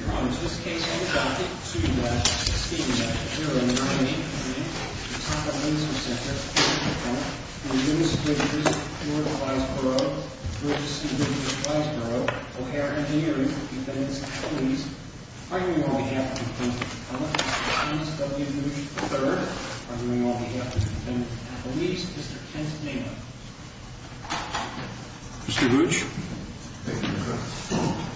Your Honor, this case is subject to speeding statute. Here are your names please. Ataka Laser Ctr. v. McCullough and Brittice V. V. Bryceborough Brittice V. V. Bryceborough O'Hare Engineering v. Appellees arguing on behalf of v. McCullough and Thomas W. Hooch III arguing on behalf of v. Appellees Mr. Kent Maynard Mr. Hooch Thank you, Your Honor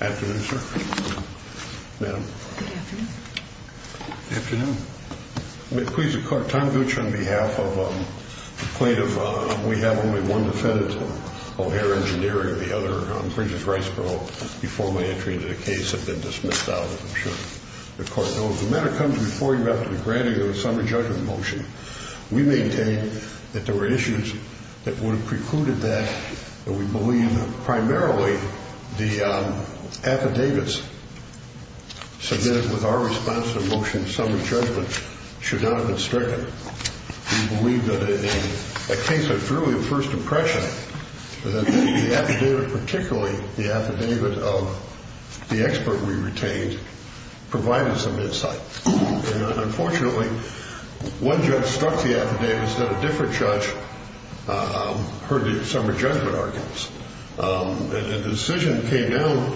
Good afternoon, sir. Good afternoon, ma'am. Good afternoon. Good afternoon. May it please the Court, Tom Hooch on behalf of the plaintiff we have only one defendant, O'Hare Engineering the other, Brittice Bryceborough before my entry into the case have been dismissed out, I'm sure. The Court knows the matter comes before you after the granting of a summary judgment motion. We maintain that there were issues that would have precluded that and we believe primarily the affidavits submitted with our response to the motion summary judgment should not have been stricken. We believe that in a case of truly first impression that the affidavit, particularly the affidavit of the expert we retained provided some insight. Unfortunately, one judge struck the affidavit and said a different judge heard the summary judgment arguments. And the decision came down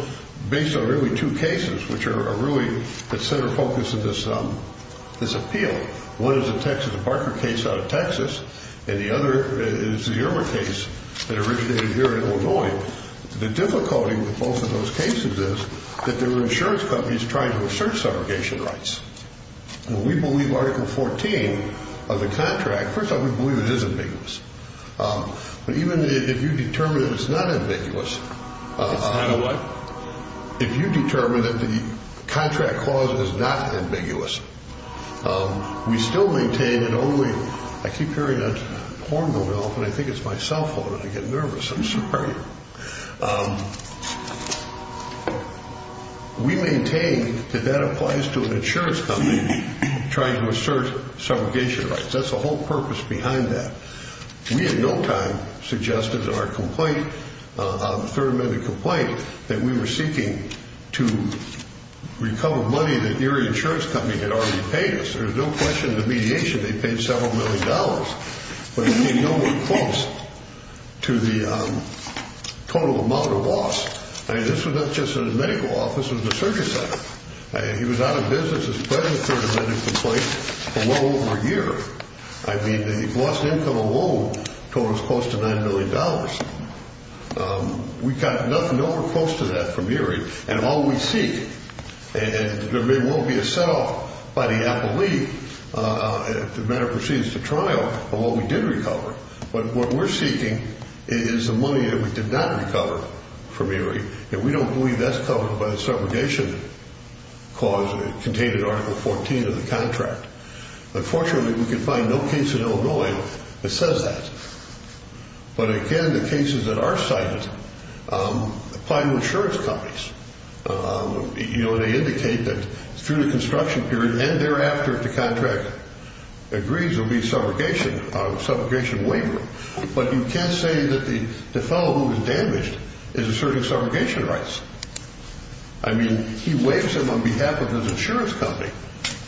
based on really two cases which are really the center focus of this appeal. One is the Texas Barker case out of Texas and the other is the Irmer case that originated here in Illinois. The difficulty with both of those cases is that there were insurance companies trying to assert subrogation rights. We believe Article 14 of the contract, first of all we believe it is ambiguous. But even if you determine that it's not ambiguous. It's not a what? If you determine that the contract clause is not ambiguous we still maintain it only, I keep hearing a horn going off and I think it's my cell phone and I get nervous, I'm sorry. We maintain that that applies to an insurance company trying to assert subrogation rights. That's the whole purpose behind that. We at no time suggested in our complaint, third amendment complaint that we were seeking to recover money that your insurance company had already paid us. There's no question the mediation they paid several million dollars but it came nowhere close to the total amount of loss. I mean this was not just in the medical office, this was the surgery center. He was out of business as president for the third amendment complaint for well over a year. I mean the loss income alone totals close to nine million dollars. We got nothing over close to that from ERA and all we seek and there may well be a set off by the appellee if the matter proceeds to trial of what we did recover. But what we're seeking is the money that we did not recover from ERA and we don't believe that's covered by the subrogation clause contained in article 14 of the contract. Unfortunately we can find no case in Illinois that says that. But again the cases that are cited apply to insurance companies. They indicate that through the construction period and thereafter if the contract agrees there will be a subrogation waiver. But you can't say that the fellow who was damaged is asserting subrogation rights. I mean he waives them on behalf of his insurance company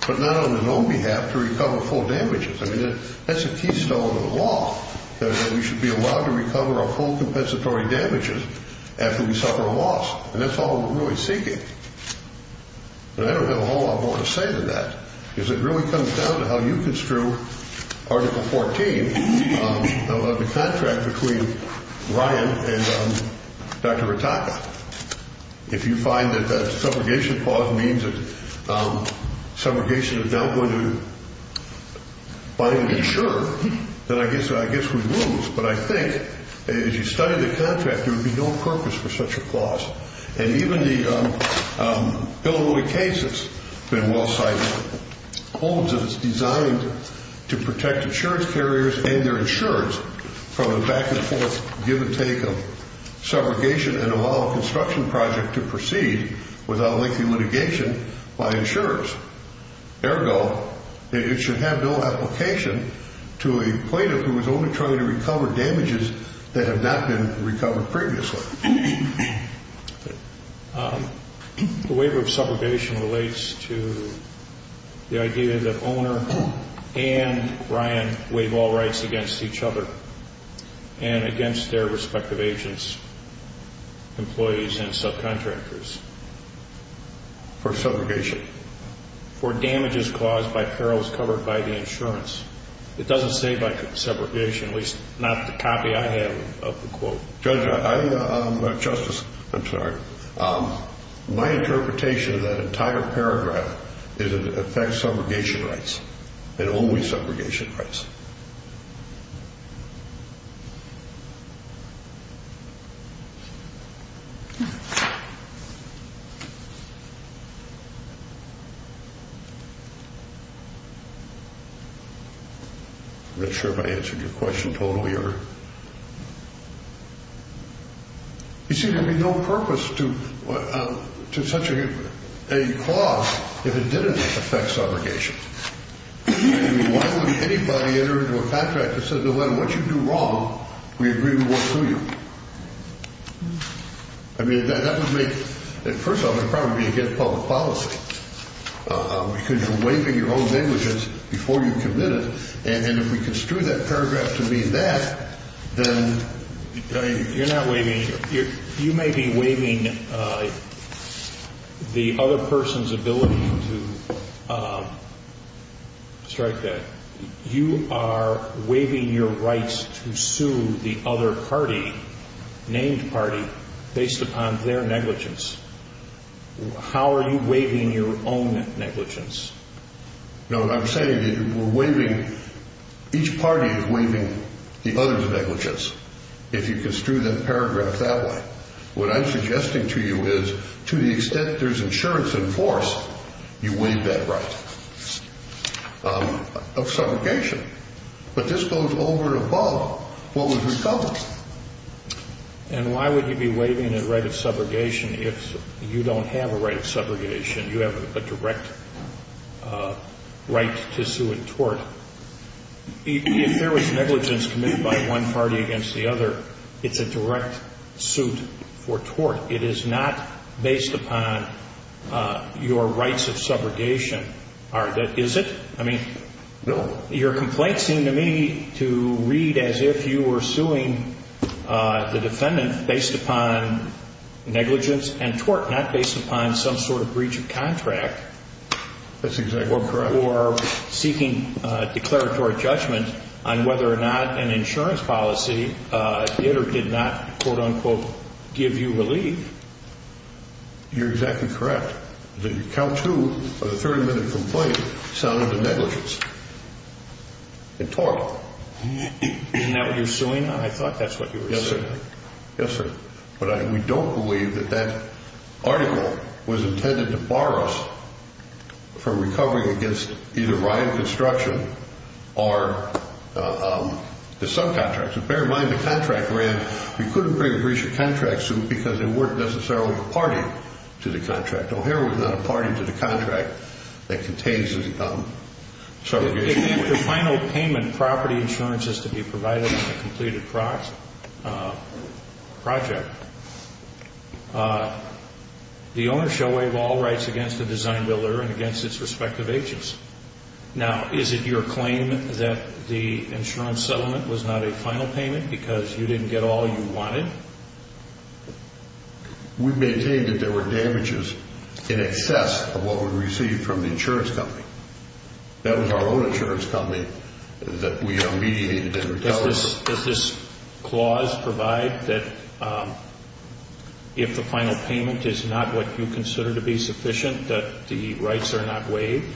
but not on his own behalf to recover full damages. I mean that's a keystone of the law that we should be allowed to recover our full compensatory damages after we suffer a loss and that's all we're really seeking. And I don't have a whole lot more to say than that because it really comes down to how you construe article 14 of the contract between Ryan and Dr. Rataka. If you find that that subrogation clause means that subrogation is now going to buy insurance then I guess we lose. But I think as you study the contract there would be no purpose for such a clause. And even the Illinois case that's been well cited holds that it's designed to protect insurance carriers and their insurance from the back and forth give and take of subrogation and allow a construction project to proceed without lengthy litigation by insurers. Ergo it should have no application to a plaintiff who is only trying to recover damages that have not been recovered previously. The waiver of subrogation relates to the idea that owner and Ryan waive all rights against each other and against their respective agents, employees, and subcontractors. For subrogation? For damages caused by perils covered by the insurance. It doesn't say by subrogation, at least not the copy I have of the quote. Justice, I'm sorry. My interpretation of that entire paragraph is it affects subrogation rights and only subrogation rights. I'm not sure if I answered your question totally. You see, there would be no purpose to such a clause if it didn't affect subrogation. Why would anybody enter into a contract that says no matter what you do wrong, we agree to work through you? I mean, that would make, first of all, it would probably be against public policy because you're waiving your own damages before you commit it. And if we construe that paragraph to mean that, then you're not waiving. You may be waiving the other person's ability to strike that. You are waiving your rights to sue the other party, named party, based upon their negligence. How are you waiving your own negligence? No, what I'm saying is we're waiving. Each party is waiving the other's negligence. If you construe that paragraph that way. What I'm suggesting to you is to the extent there's insurance in force, you waive that right of subrogation. But this goes over and above what was recovered. And why would you be waiving a right of subrogation if you don't have a right of subrogation? You have a direct right to sue and tort. If there was negligence committed by one party against the other, it's a direct suit for tort. It is not based upon your rights of subrogation. Is it? No. Your complaints seem to me to read as if you were suing the defendant based upon negligence and tort, not based upon some sort of breach of contract. That's exactly correct. Or seeking declaratory judgment on whether or not an insurance policy did or did not, quote, unquote, give you relief. You're exactly correct. The count to a 30-minute complaint sounded to negligence and tort. Isn't that what you're suing? I thought that's what you were suing. Yes, sir. But we don't believe that that article was intended to bar us from recovering against either riot construction or the subcontracts. And bear in mind, the contract ran. We couldn't bring a breach of contract suit because there weren't necessarily a party to the contract. O'Hara was not a party to the contract that contains the subrogation. If after final payment, property insurance is to be provided on the completed project, the owner shall waive all rights against the design builder and against its respective agents. Now, is it your claim that the insurance settlement was not a final payment because you didn't get all you wanted? We maintain that there were damages in excess of what we received from the insurance company. That was our own insurance company that we mediated and recovered. Does this clause provide that if the final payment is not what you consider to be sufficient, that the rights are not waived?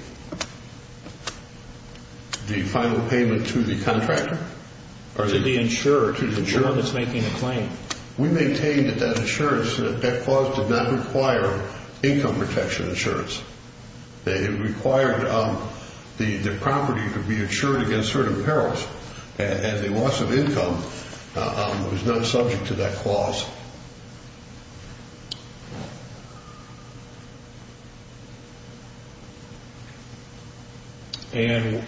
The final payment to the contractor? Or to the insurer? To the insurer. The insurer that's making the claim. We maintain that that clause did not require income protection insurance. It required the property to be insured against certain perils, and the loss of income was not subject to that clause. And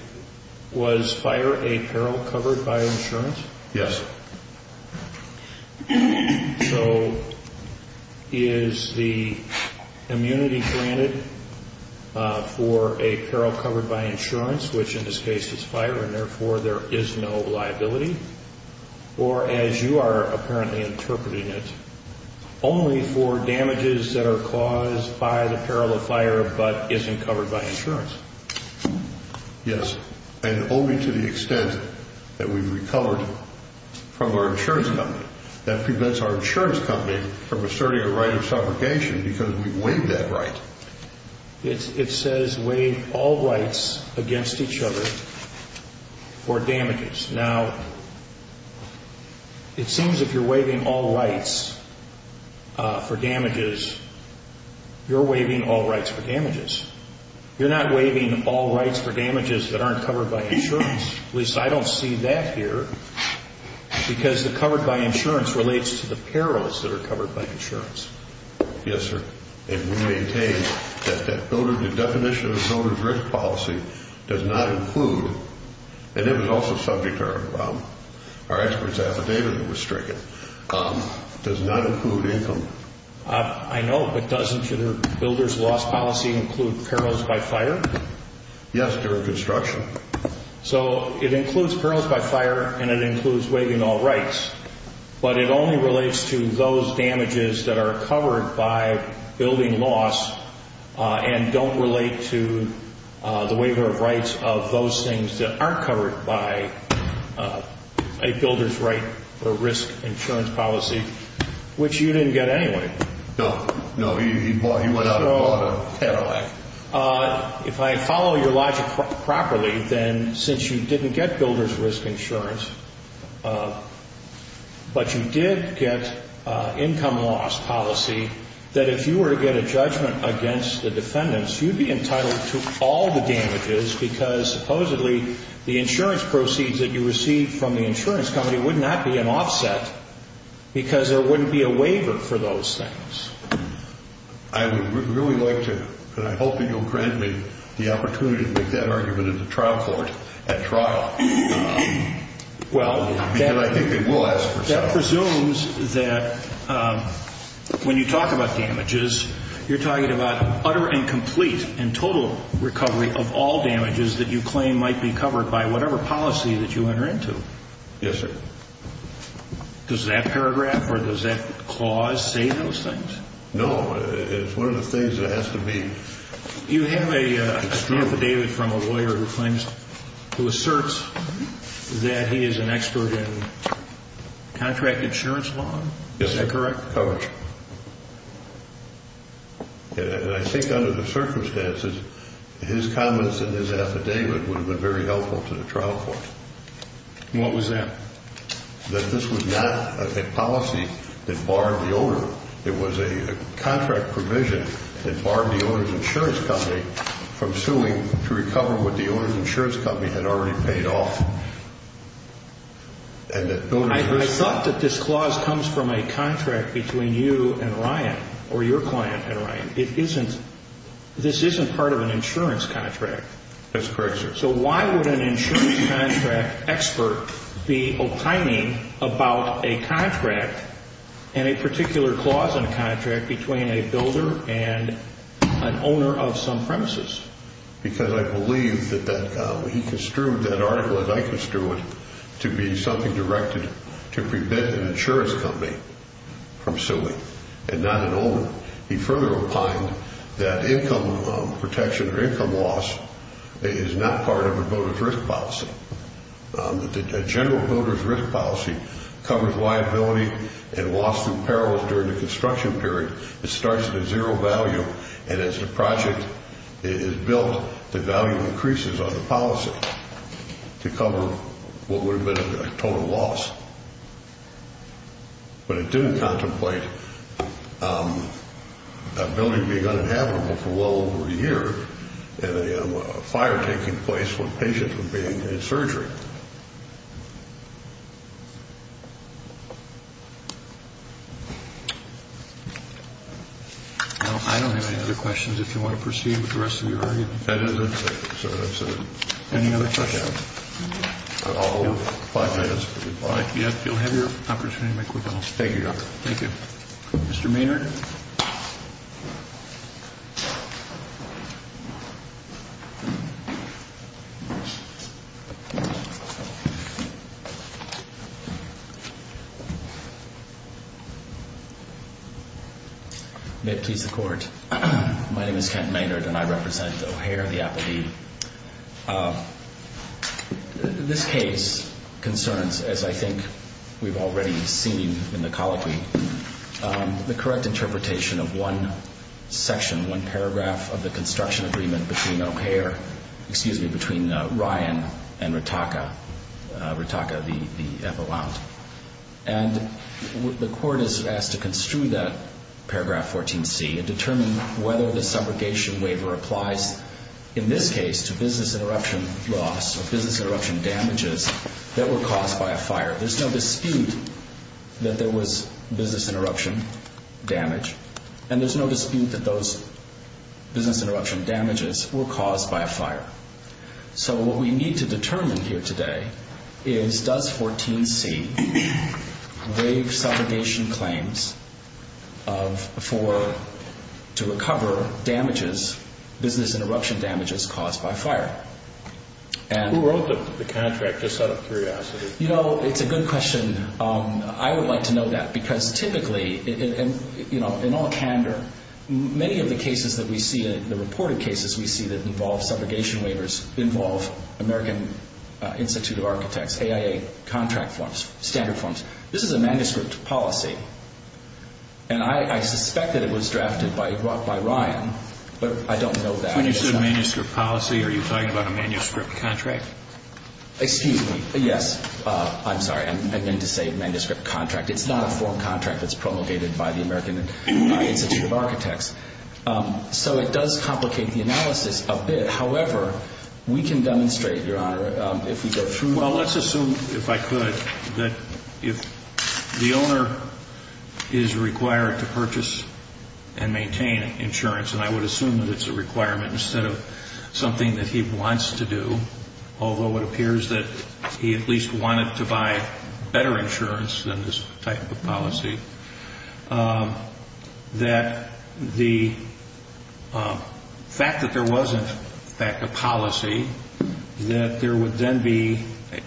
was fire a peril covered by insurance? Yes. So is the immunity granted for a peril covered by insurance, which in this case is fire and therefore there is no liability, or as you are apparently interpreting it, only for damages that are caused by the peril of fire but isn't covered by insurance? Yes, and only to the extent that we recovered from our insurance company. That prevents our insurance company from asserting a right of suffocation because we waived that right. It says waive all rights against each other for damages. Now, it seems if you're waiving all rights for damages, you're waiving all rights for damages. You're not waiving all rights for damages that aren't covered by insurance. At least I don't see that here because the covered by insurance relates to the perils that are covered by insurance. Yes, sir. And we maintain that the definition of a donor's risk policy does not include, and it was also subject to our expert's affidavit that was stricken, does not include income. I know, but doesn't your builder's loss policy include perils by fire? Yes, during construction. So it includes perils by fire and it includes waiving all rights, but it only relates to those damages that are covered by building loss and don't relate to the waiver of rights of those things that aren't covered by a builder's right or risk insurance policy, which you didn't get anyway. No, no, he went out and bought a Cadillac. If I follow your logic properly, then since you didn't get builder's risk insurance, but you did get income loss policy, that if you were to get a judgment against the defendants, you'd be entitled to all the damages because supposedly the insurance proceeds that you received from the insurance company would not be an offset because there wouldn't be a waiver for those things. I would really like to, and I hope that you'll grant me the opportunity to make that argument in the trial court at trial because I think they will ask for something. That presumes that when you talk about damages, you're talking about utter and complete and total recovery of all damages that you claim might be covered by whatever policy that you enter into. Yes, sir. Does that paragraph or does that clause say those things? No, it's one of the things that has to be. You have an affidavit from a lawyer who claims, who asserts that he is an expert in contract insurance law. Is that correct? Correct. And I think under the circumstances, his comments in his affidavit would have been very helpful to the trial court. What was that? That this was not a policy that barred the owner. It was a contract provision that barred the owner's insurance company from suing to recover what the owner's insurance company had already paid off. I thought that this clause comes from a contract between you and Ryan or your client and Ryan. This isn't part of an insurance contract. That's correct, sir. So why would an insurance contract expert be opining about a contract and a particular clause in a contract between a builder and an owner of some premises? Because I believe that he construed that article as I construed it to be something directed to prevent an insurance company from suing and not an owner. He further opined that income protection or income loss is not part of a builder's risk policy, that a general builder's risk policy covers liability and loss through perils during the construction period. It starts at a zero value, and as the project is built, the value increases on the policy to cover what would have been a total loss. But it didn't contemplate a building being uninhabitable for well over a year and a fire taking place when patients were being in surgery. I don't have any other questions if you want to proceed with the rest of your argument. That is it, sir. Any other questions? I'll hold five minutes for goodbye. Yes, you'll have your opportunity to make quick calls. Thank you, Doctor. Thank you. Mr. Maynard? May it please the Court. My name is Kent Maynard, and I represent O'Hare, the Applebee. This case concerns, as I think we've already seen in the colloquy, the correct interpretation of one section, one paragraph of the construction agreement between O'Hare, excuse me, between Ryan and Ritaka, Ritaka, the Applebound. And the Court is asked to construe that paragraph 14C and determine whether the subrogation waiver applies, in this case, to business interruption loss or business interruption damages that were caused by a fire. There's no dispute that there was business interruption damage, and there's no dispute that those business interruption damages were caused by a fire. So what we need to determine here today is does 14C waive subrogation claims for, to recover damages, business interruption damages caused by fire. Who wrote the contract, just out of curiosity? You know, it's a good question. I would like to know that, because typically, you know, in all candor, many of the cases that we see, the reported cases we see that involve subrogation waivers, involve American Institute of Architects, AIA contract forms, standard forms. This is a manuscript policy, and I suspect that it was drafted by Ryan, but I don't know that. When you say manuscript policy, are you talking about a manuscript contract? Excuse me. Yes. I'm sorry. I meant to say manuscript contract. It's not a form contract that's promulgated by the American Institute of Architects. So it does complicate the analysis a bit. However, we can demonstrate, Your Honor, if we go through. Well, let's assume, if I could, that if the owner is required to purchase and maintain insurance, and I would assume that it's a requirement instead of something that he wants to do, although it appears that he at least wanted to buy better insurance than this type of policy, that the fact that there wasn't, in fact, a policy, that there would then be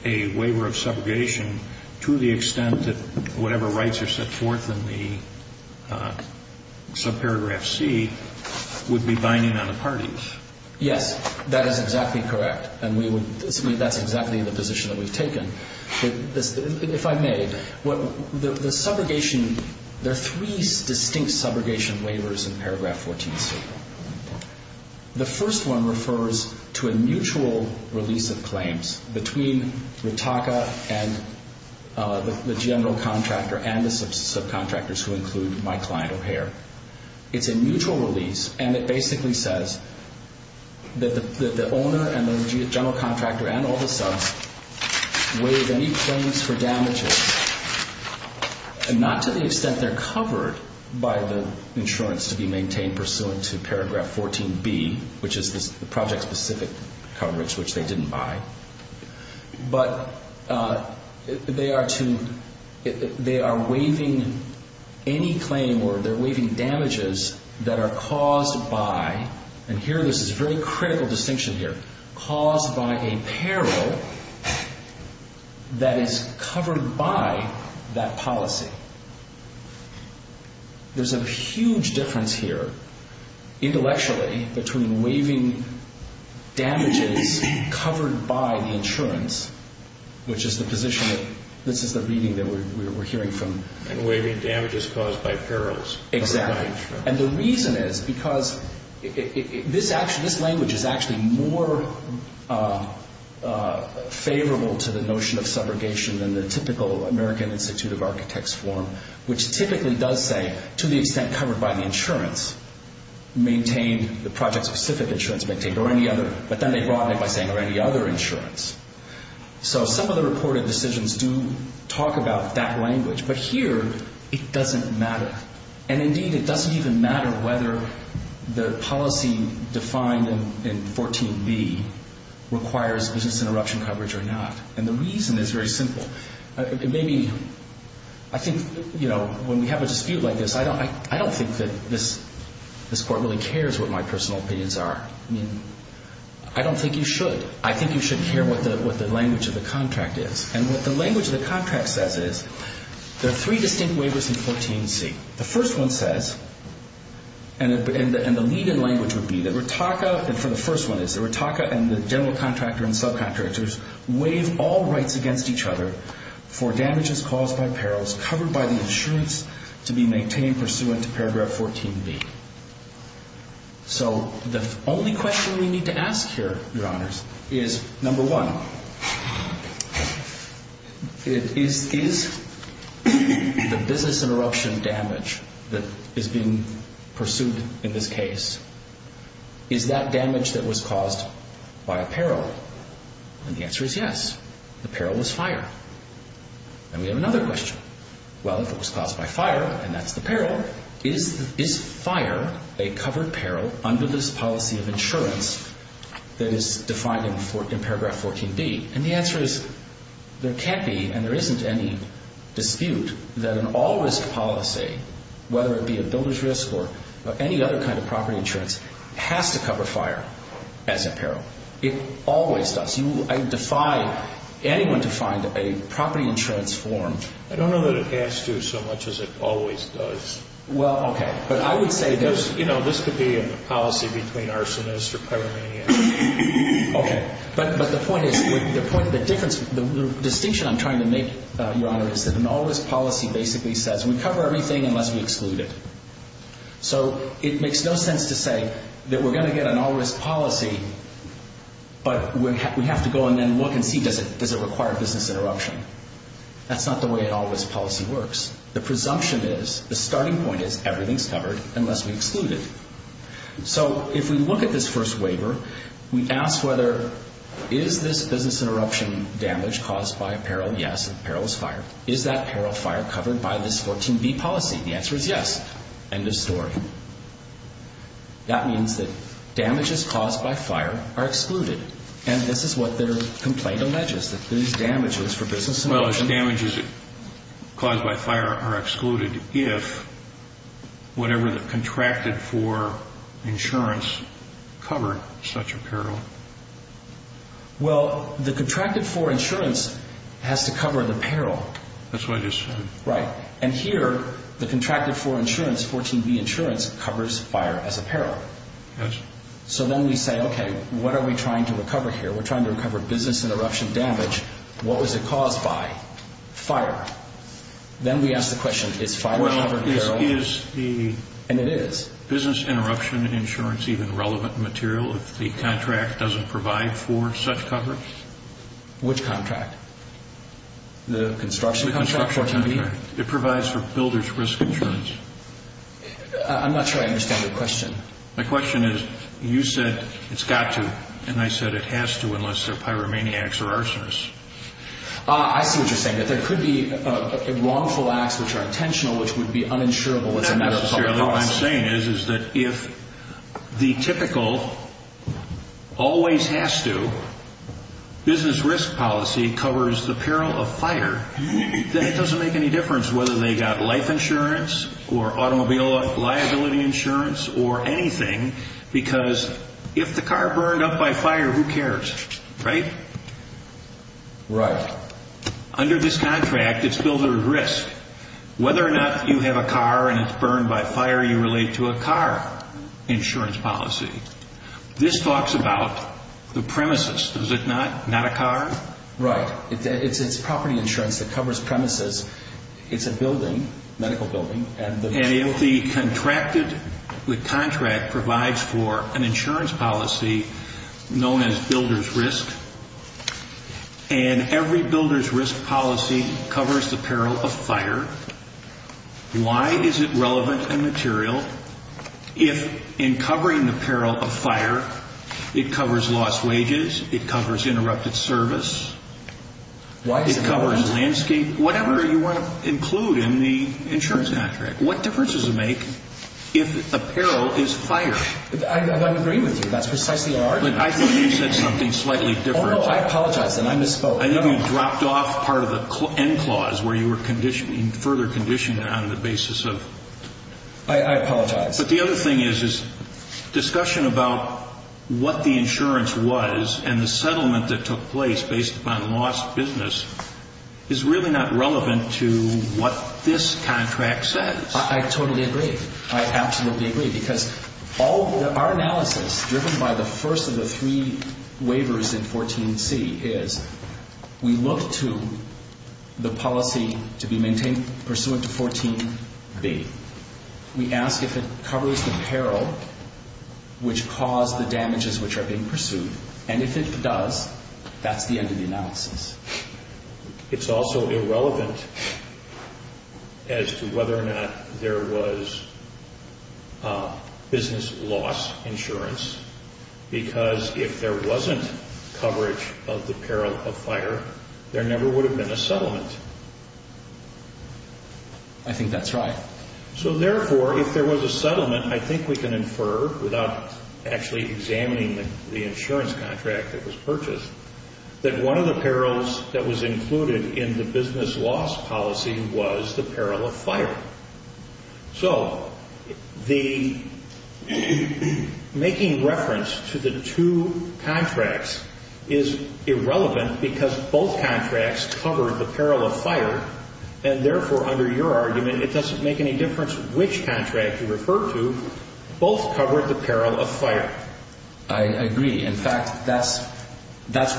a waiver of subrogation to the extent that whatever rights are set forth in the subparagraph C would be binding on the parties. Yes. That is exactly correct, and that's exactly the position that we've taken. If I may, the subrogation, there are three distinct subrogation waivers in paragraph 14C. The first one refers to a mutual release of claims between Ritaka and the general contractor and the subcontractors who include my client O'Hare. It's a mutual release, and it basically says that the owner and the general contractor and all the subs waive any claims for damages, not to the extent they're covered by the insurance to be maintained pursuant to paragraph 14B, which is the project-specific coverage, which they didn't buy, but they are waiving any claim or they're waiving damages that are caused by, and here this is a very critical distinction here, caused by a peril that is covered by that policy. There's a huge difference here intellectually between waiving damages covered by the insurance, which is the position that this is the reading that we're hearing from. Waiving damages caused by perils. Exactly, and the reason is because this language is actually more favorable to the notion of subrogation than the typical American Institute of Architects form, which typically does say, to the extent covered by the insurance, maintained, the project-specific insurance maintained, or any other, but then they broaden it by saying, or any other insurance. So some of the reported decisions do talk about that language, but here it doesn't matter, and indeed it doesn't even matter whether the policy defined in 14B requires business interruption coverage or not, and the reason is very simple. It may be, I think, you know, when we have a dispute like this, I don't think that this Court really cares what my personal opinions are. I mean, I don't think you should. I think you should care what the language of the contract is, and what the language of the contract says is there are three distinct waivers in 14C. The first one says, and the lead-in language would be that Ritaka, and for the first one is that Ritaka and the general contractor and subcontractors waive all rights against each other for damages caused by perils covered by the insurance to be maintained pursuant to paragraph 14B. So the only question we need to ask here, Your Honors, is, number one, is the business interruption damage that is being pursued in this case, is that damage that was caused by a peril? And the answer is yes. The peril was fire. And we have another question. Well, if it was caused by fire, and that's the peril, is fire a covered peril under this policy of insurance that is defined in paragraph 14B? And the answer is there can't be and there isn't any dispute that an all-risk policy, whether it be a builder's risk or any other kind of property insurance, has to cover fire as a peril. It always does. I defy anyone to find a property insurance form. I don't know that it has to so much as it always does. Well, okay. But I would say there's, you know, this could be a policy between arsonists or pyromaniacs. Okay. But the point is, the point of the difference, the distinction I'm trying to make, Your Honor, is that an all-risk policy basically says we cover everything unless we exclude it. So it makes no sense to say that we're going to get an all-risk policy, but we have to go and then look and see does it require a business interruption. That's not the way an all-risk policy works. The presumption is, the starting point is everything's covered unless we exclude it. So if we look at this first waiver, we ask whether, is this business interruption damage caused by a peril? Yes. The peril is fire. Is that peril fire covered by this 14B policy? The answer is yes. End of story. That means that damages caused by fire are excluded, and this is what their complaint alleges, that these damages for business interruption. Well, the damages caused by fire are excluded if whatever the contracted for insurance covered such a peril. Well, the contracted for insurance has to cover the peril. That's what I just said. Right. And here, the contracted for insurance, 14B insurance, covers fire as a peril. Yes. So then we say, okay, what are we trying to recover here? We're trying to recover business interruption damage. What was it caused by? Fire. Then we ask the question, is fire covered peril? Well, is the business interruption insurance even relevant material if the contract doesn't provide for such coverage? Which contract? The construction contract, 14B? The construction contract. It provides for builder's risk insurance. I'm not sure I understand your question. My question is, you said it's got to, and I said it has to unless they're pyromaniacs or arsonists. I see what you're saying, that there could be wrongful acts which are intentional which would be uninsurable as a matter of public policy. Not necessarily. What I'm saying is, is that if the typical always has to, business risk policy covers the peril of fire, then it doesn't make any difference whether they got life insurance or automobile liability insurance or anything, because if the car burned up by fire, who cares, right? Right. Under this contract, it's builder's risk. Whether or not you have a car and it's burned by fire, you relate to a car insurance policy. This talks about the premises, does it not? Not a car? Right. It's property insurance that covers premises. It's a building, medical building. And if the contract provides for an insurance policy known as builder's risk, and every builder's risk policy covers the peril of fire, why is it relevant and material if in covering the peril of fire, it covers lost wages, it covers interrupted service, it covers landscape, whatever you want to include in the insurance contract? What difference does it make if the peril is fire? I don't agree with you. That's precisely your argument. But I thought you said something slightly different. Oh, no. I apologize, then. I misspoke. I think you dropped off part of the end clause where you were further conditioned on the basis of... I apologize. But the other thing is discussion about what the insurance was and the settlement that took place based upon lost business is really not relevant to what this contract says. I totally agree. I absolutely agree. Because our analysis, driven by the first of the three waivers in 14C, is we look to the policy to be maintained pursuant to 14B. We ask if it covers the peril which caused the damages which are being pursued, and if it does, that's the end of the analysis. It's also irrelevant as to whether or not there was business loss insurance because if there wasn't coverage of the peril of fire, there never would have been a settlement. I think that's right. So, therefore, if there was a settlement, I think we can infer, without actually examining the insurance contract that was purchased, that one of the perils that was included in the business loss policy was the peril of fire. So the making reference to the two contracts is irrelevant because both contracts covered the peril of fire, and, therefore, under your argument, it doesn't make any difference which contract you refer to. Both covered the peril of fire. I agree. In fact, that's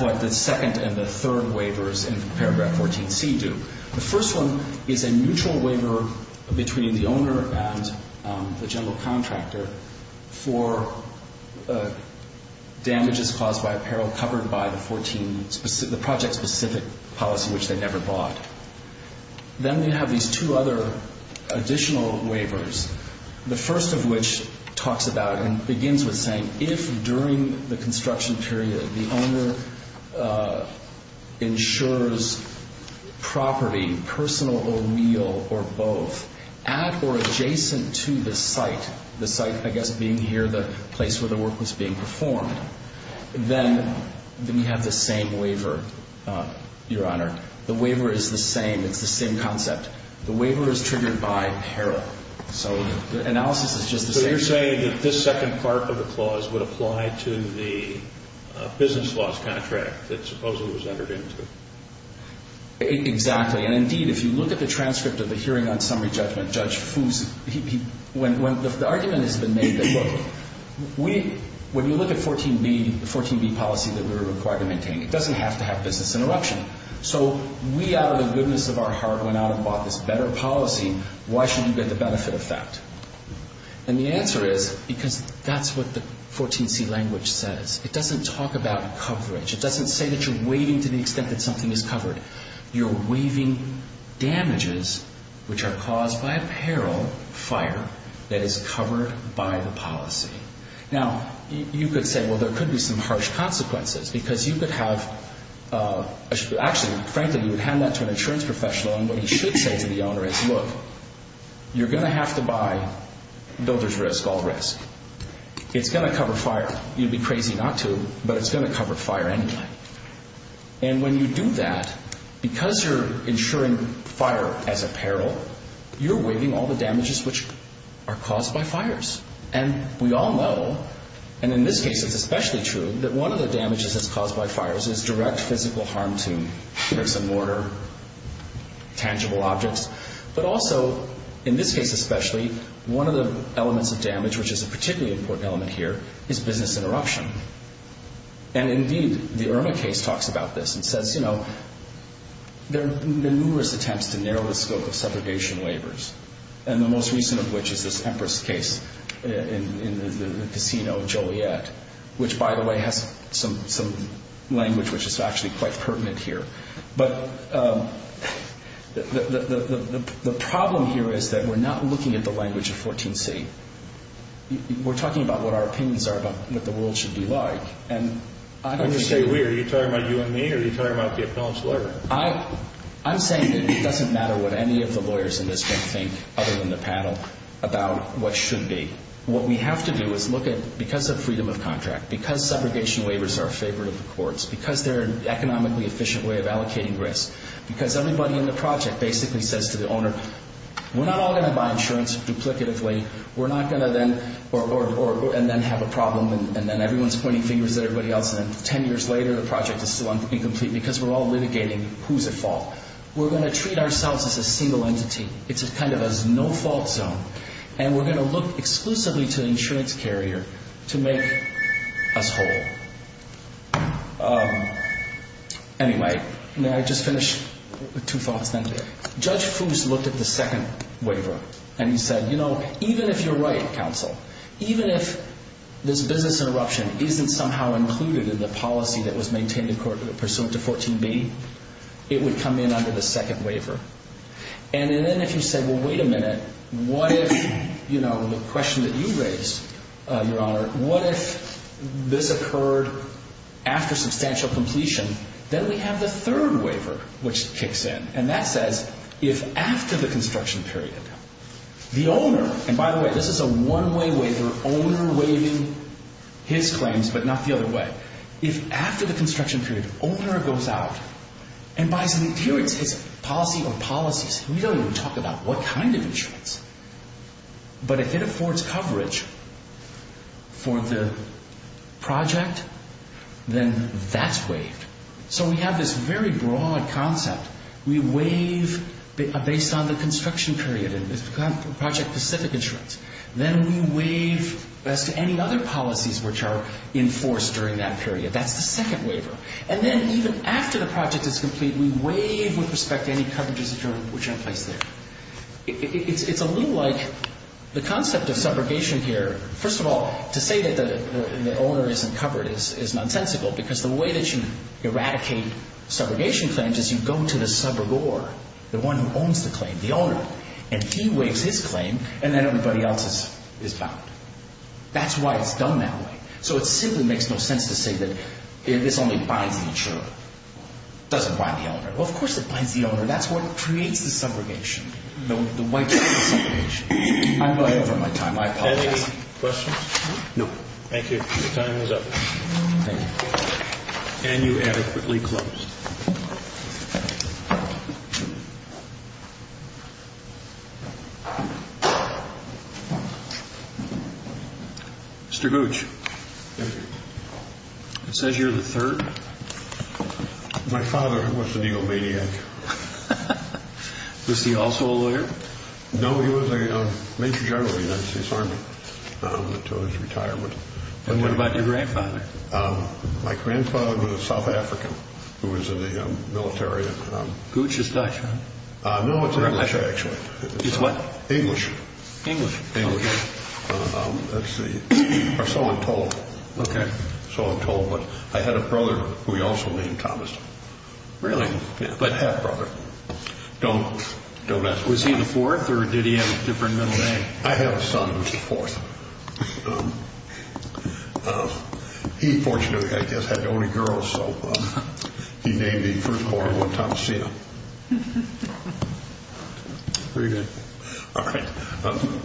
what the second and the third waivers in paragraph 14C do. The first one is a neutral waiver between the owner and the general contractor for damages caused by a peril covered by the project-specific policy, which they never bought. Then we have these two other additional waivers, the first of which talks about and begins with saying if during the construction period the owner insures property, personal or real or both, at or adjacent to the site, the site, I guess, being here, the place where the work was being performed, then we have the same waiver, Your Honor. The waiver is the same. It's the same concept. The waiver is triggered by peril. So the analysis is just the same. So you're saying that this second part of the clause would apply to the business loss contract that Supposal was entered into? Exactly. And, indeed, if you look at the transcript of the hearing on summary judgment, Judge Fuse, the argument has been made that, look, when you look at 14B, the 14B policy that we were required to maintain, it doesn't have to have business interruption. So we, out of the goodness of our heart, went out and bought this better policy. Why shouldn't you get the benefit effect? And the answer is because that's what the 14C language says. It doesn't talk about coverage. It doesn't say that you're waiving to the extent that something is covered. You're waiving damages which are caused by a peril fire that is covered by the policy. Now, you could say, well, there could be some harsh consequences because you could have, actually, frankly, you would hand that to an insurance professional, and what he should say to the owner is, look, you're going to have to buy builder's risk, all risk. It's going to cover fire. You'd be crazy not to, but it's going to cover fire anyway. And when you do that, because you're insuring fire as a peril, you're waiving all the damages which are caused by fires. And we all know, and in this case it's especially true, that one of the damages that's caused by fires is direct physical harm to bricks and mortar, tangible objects. But also, in this case especially, one of the elements of damage, which is a particularly important element here, is business interruption. And, indeed, the Irma case talks about this and says, you know, there have been numerous attempts to narrow the scope of segregation labors, and the most recent of which is this Empress case in the casino in Joliet, which, by the way, has some language which is actually quite pertinent here. But the problem here is that we're not looking at the language of 14C. We're talking about what our opinions are about what the world should be like. And I don't understand. Are you talking about you and me, or are you talking about the appellant's lawyer? I'm saying that it doesn't matter what any of the lawyers in this room think, other than the panel, about what should be. What we have to do is look at, because of freedom of contract, because segregation labors are a favorite of the courts, because they're an economically efficient way of allocating risk, because everybody in the project basically says to the owner, we're not all going to buy insurance duplicatively. We're not going to then, or, and then have a problem, and then everyone's pointing fingers at everybody else, and then 10 years later the project is still incomplete because we're all litigating who's at fault. We're going to treat ourselves as a single entity. It's kind of a no-fault zone. And we're going to look exclusively to the insurance carrier to make us whole. Anyway, may I just finish with two thoughts then? Judge Foose looked at the second waiver, and he said, you know, even if you're right, counsel, even if this business interruption isn't somehow included in the policy that was maintained in court pursuant to 14B, it would come in under the second waiver. And then if you said, well, wait a minute, what if, you know, the question that you raised, Your Honor, what if this occurred after substantial completion, then we have the third waiver, which kicks in. And that says, if after the construction period, the owner, and by the way, this is a one-way waiver, owner waiving his claims, but not the other way. If after the construction period, owner goes out and buys an insurance, his policy or policies, we don't even talk about what kind of insurance. But if it affords coverage for the project, then that's waived. So we have this very broad concept. We waive based on the construction period and project-specific insurance. Then we waive as to any other policies which are enforced during that period. That's the second waiver. And then even after the project is complete, we waive with respect to any coverages which are in place there. It's a little like the concept of subrogation here. First of all, to say that the owner isn't covered is nonsensical, because the way that you eradicate subrogation claims is you go to the subrogor, the one who owns the claim, the owner. And he waives his claim, and then everybody else is bound. That's why it's done that way. So it simply makes no sense to say that this only binds the insurer. It doesn't bind the owner. Well, of course it binds the owner. That's what creates the subrogation. The waiver of subrogation. I'm buying for my time. I apologize. Any questions? No. Thank you. Your time is up. Thank you. And you adequately close. Mr. Gooch, it says you're the third. My father was an egomaniac. Was he also a lawyer? No, he was a major general in the United States Army until his retirement. And what about your grandfather? My grandfather was a South African who was in the military. Gooch is Dutch, huh? No, it's English, actually. It's what? English. English. English. Or so I'm told. Okay. So I'm told. But I had a brother who he also named Thomas. Really? I have a brother. Don't ask. Was he the fourth or did he have a different middle name? I have a son who was the fourth. He fortunately, I guess, had only girls, so he named the firstborn one Thomasina. Very good. All right.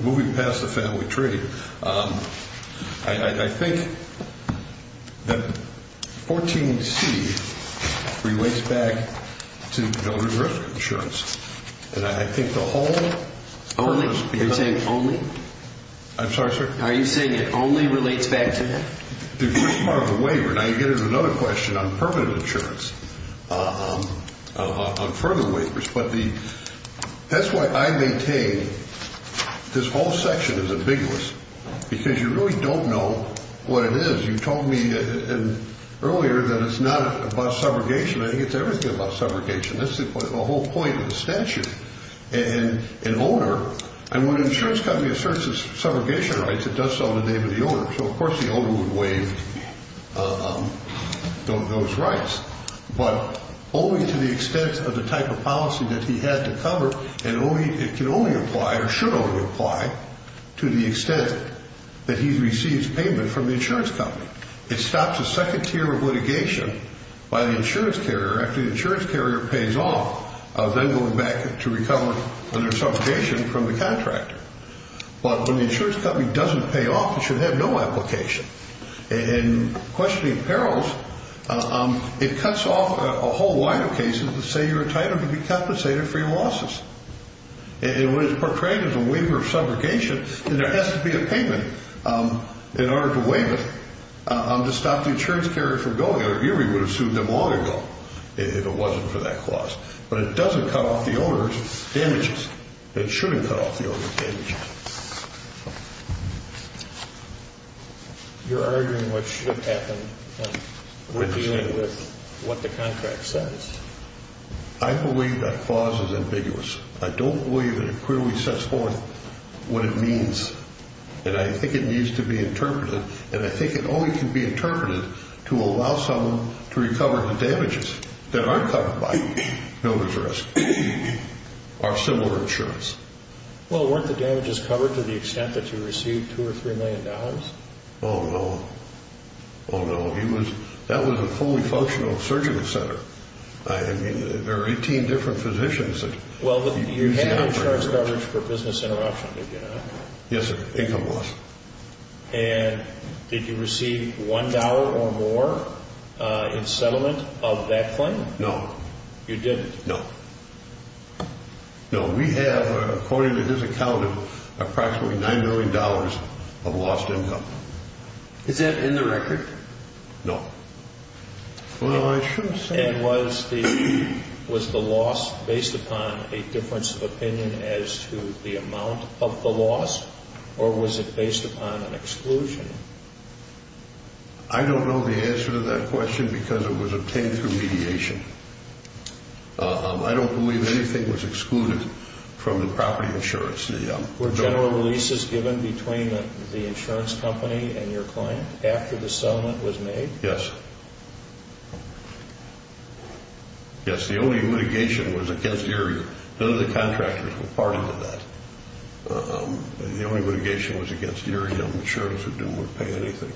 Moving past the family tree, I think that 14C relates back to donor and risk insurance. And I think the whole- Only? Are you saying only? I'm sorry, sir? Are you saying it only relates back to that? The first part of the waiver. Now, you get into another question on permanent insurance, on further waivers. That's why I maintain this whole section is ambiguous, because you really don't know what it is. You told me earlier that it's not about subrogation. I think it's everything about subrogation. That's the whole point of the statute. And when an insurance company asserts its subrogation rights, it does so in the name of the owner. So, of course, the owner would waive those rights. But only to the extent of the type of policy that he had to cover, and it can only apply, or should only apply, to the extent that he receives payment from the insurance company. It stops a second tier of litigation by the insurance carrier after the insurance carrier pays off, then going back to recover under subrogation from the contractor. But when the insurance company doesn't pay off, it should have no application. In questioning perils, it cuts off a whole line of cases that say you're entitled to be compensated for your losses. It was portrayed as a waiver of subrogation, and there has to be a payment in order to waive it to stop the insurance carrier from going. URI would have sued them long ago if it wasn't for that clause. But it doesn't cut off the owner's damages. It shouldn't cut off the owner's damages. You're arguing what should happen when dealing with what the contract says. I believe that clause is ambiguous. I don't believe that it clearly sets forth what it means, and I think it needs to be interpreted, and I think it only can be interpreted to allow someone to recover the damages that are covered by notice risk or similar insurance. Well, weren't the damages covered to the extent that you received $2 million or $3 million? Oh, no. Oh, no. That was a fully functional surgical center. I mean, there were 18 different physicians. Well, you had insurance coverage for business interruption, did you not? Yes, sir, income loss. And did you receive $1 or more in settlement of that claim? No. You didn't? No. No, we have, according to his account, approximately $9 million of lost income. Is that in the record? No. Well, I shouldn't say that. And was the loss based upon a difference of opinion as to the amount of the loss, or was it based upon an exclusion? I don't know the answer to that question because it was obtained through mediation. I don't believe anything was excluded from the property insurance. Were general releases given between the insurance company and your client after the settlement was made? Yes. Yes, the only litigation was against Erie. None of the contractors were part of that. The only litigation was against Erie. No insurance would pay anything.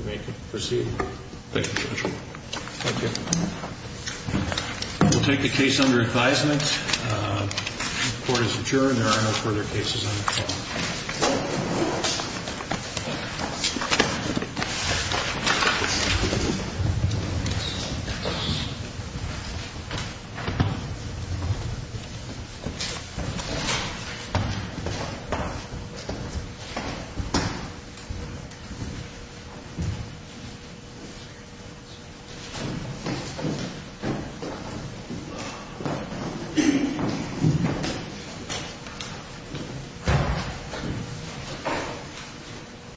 You may proceed. Thank you, Judge. Thank you. We'll take the case under advisement. The court is adjourned. There are no further cases on the floor. Thank you.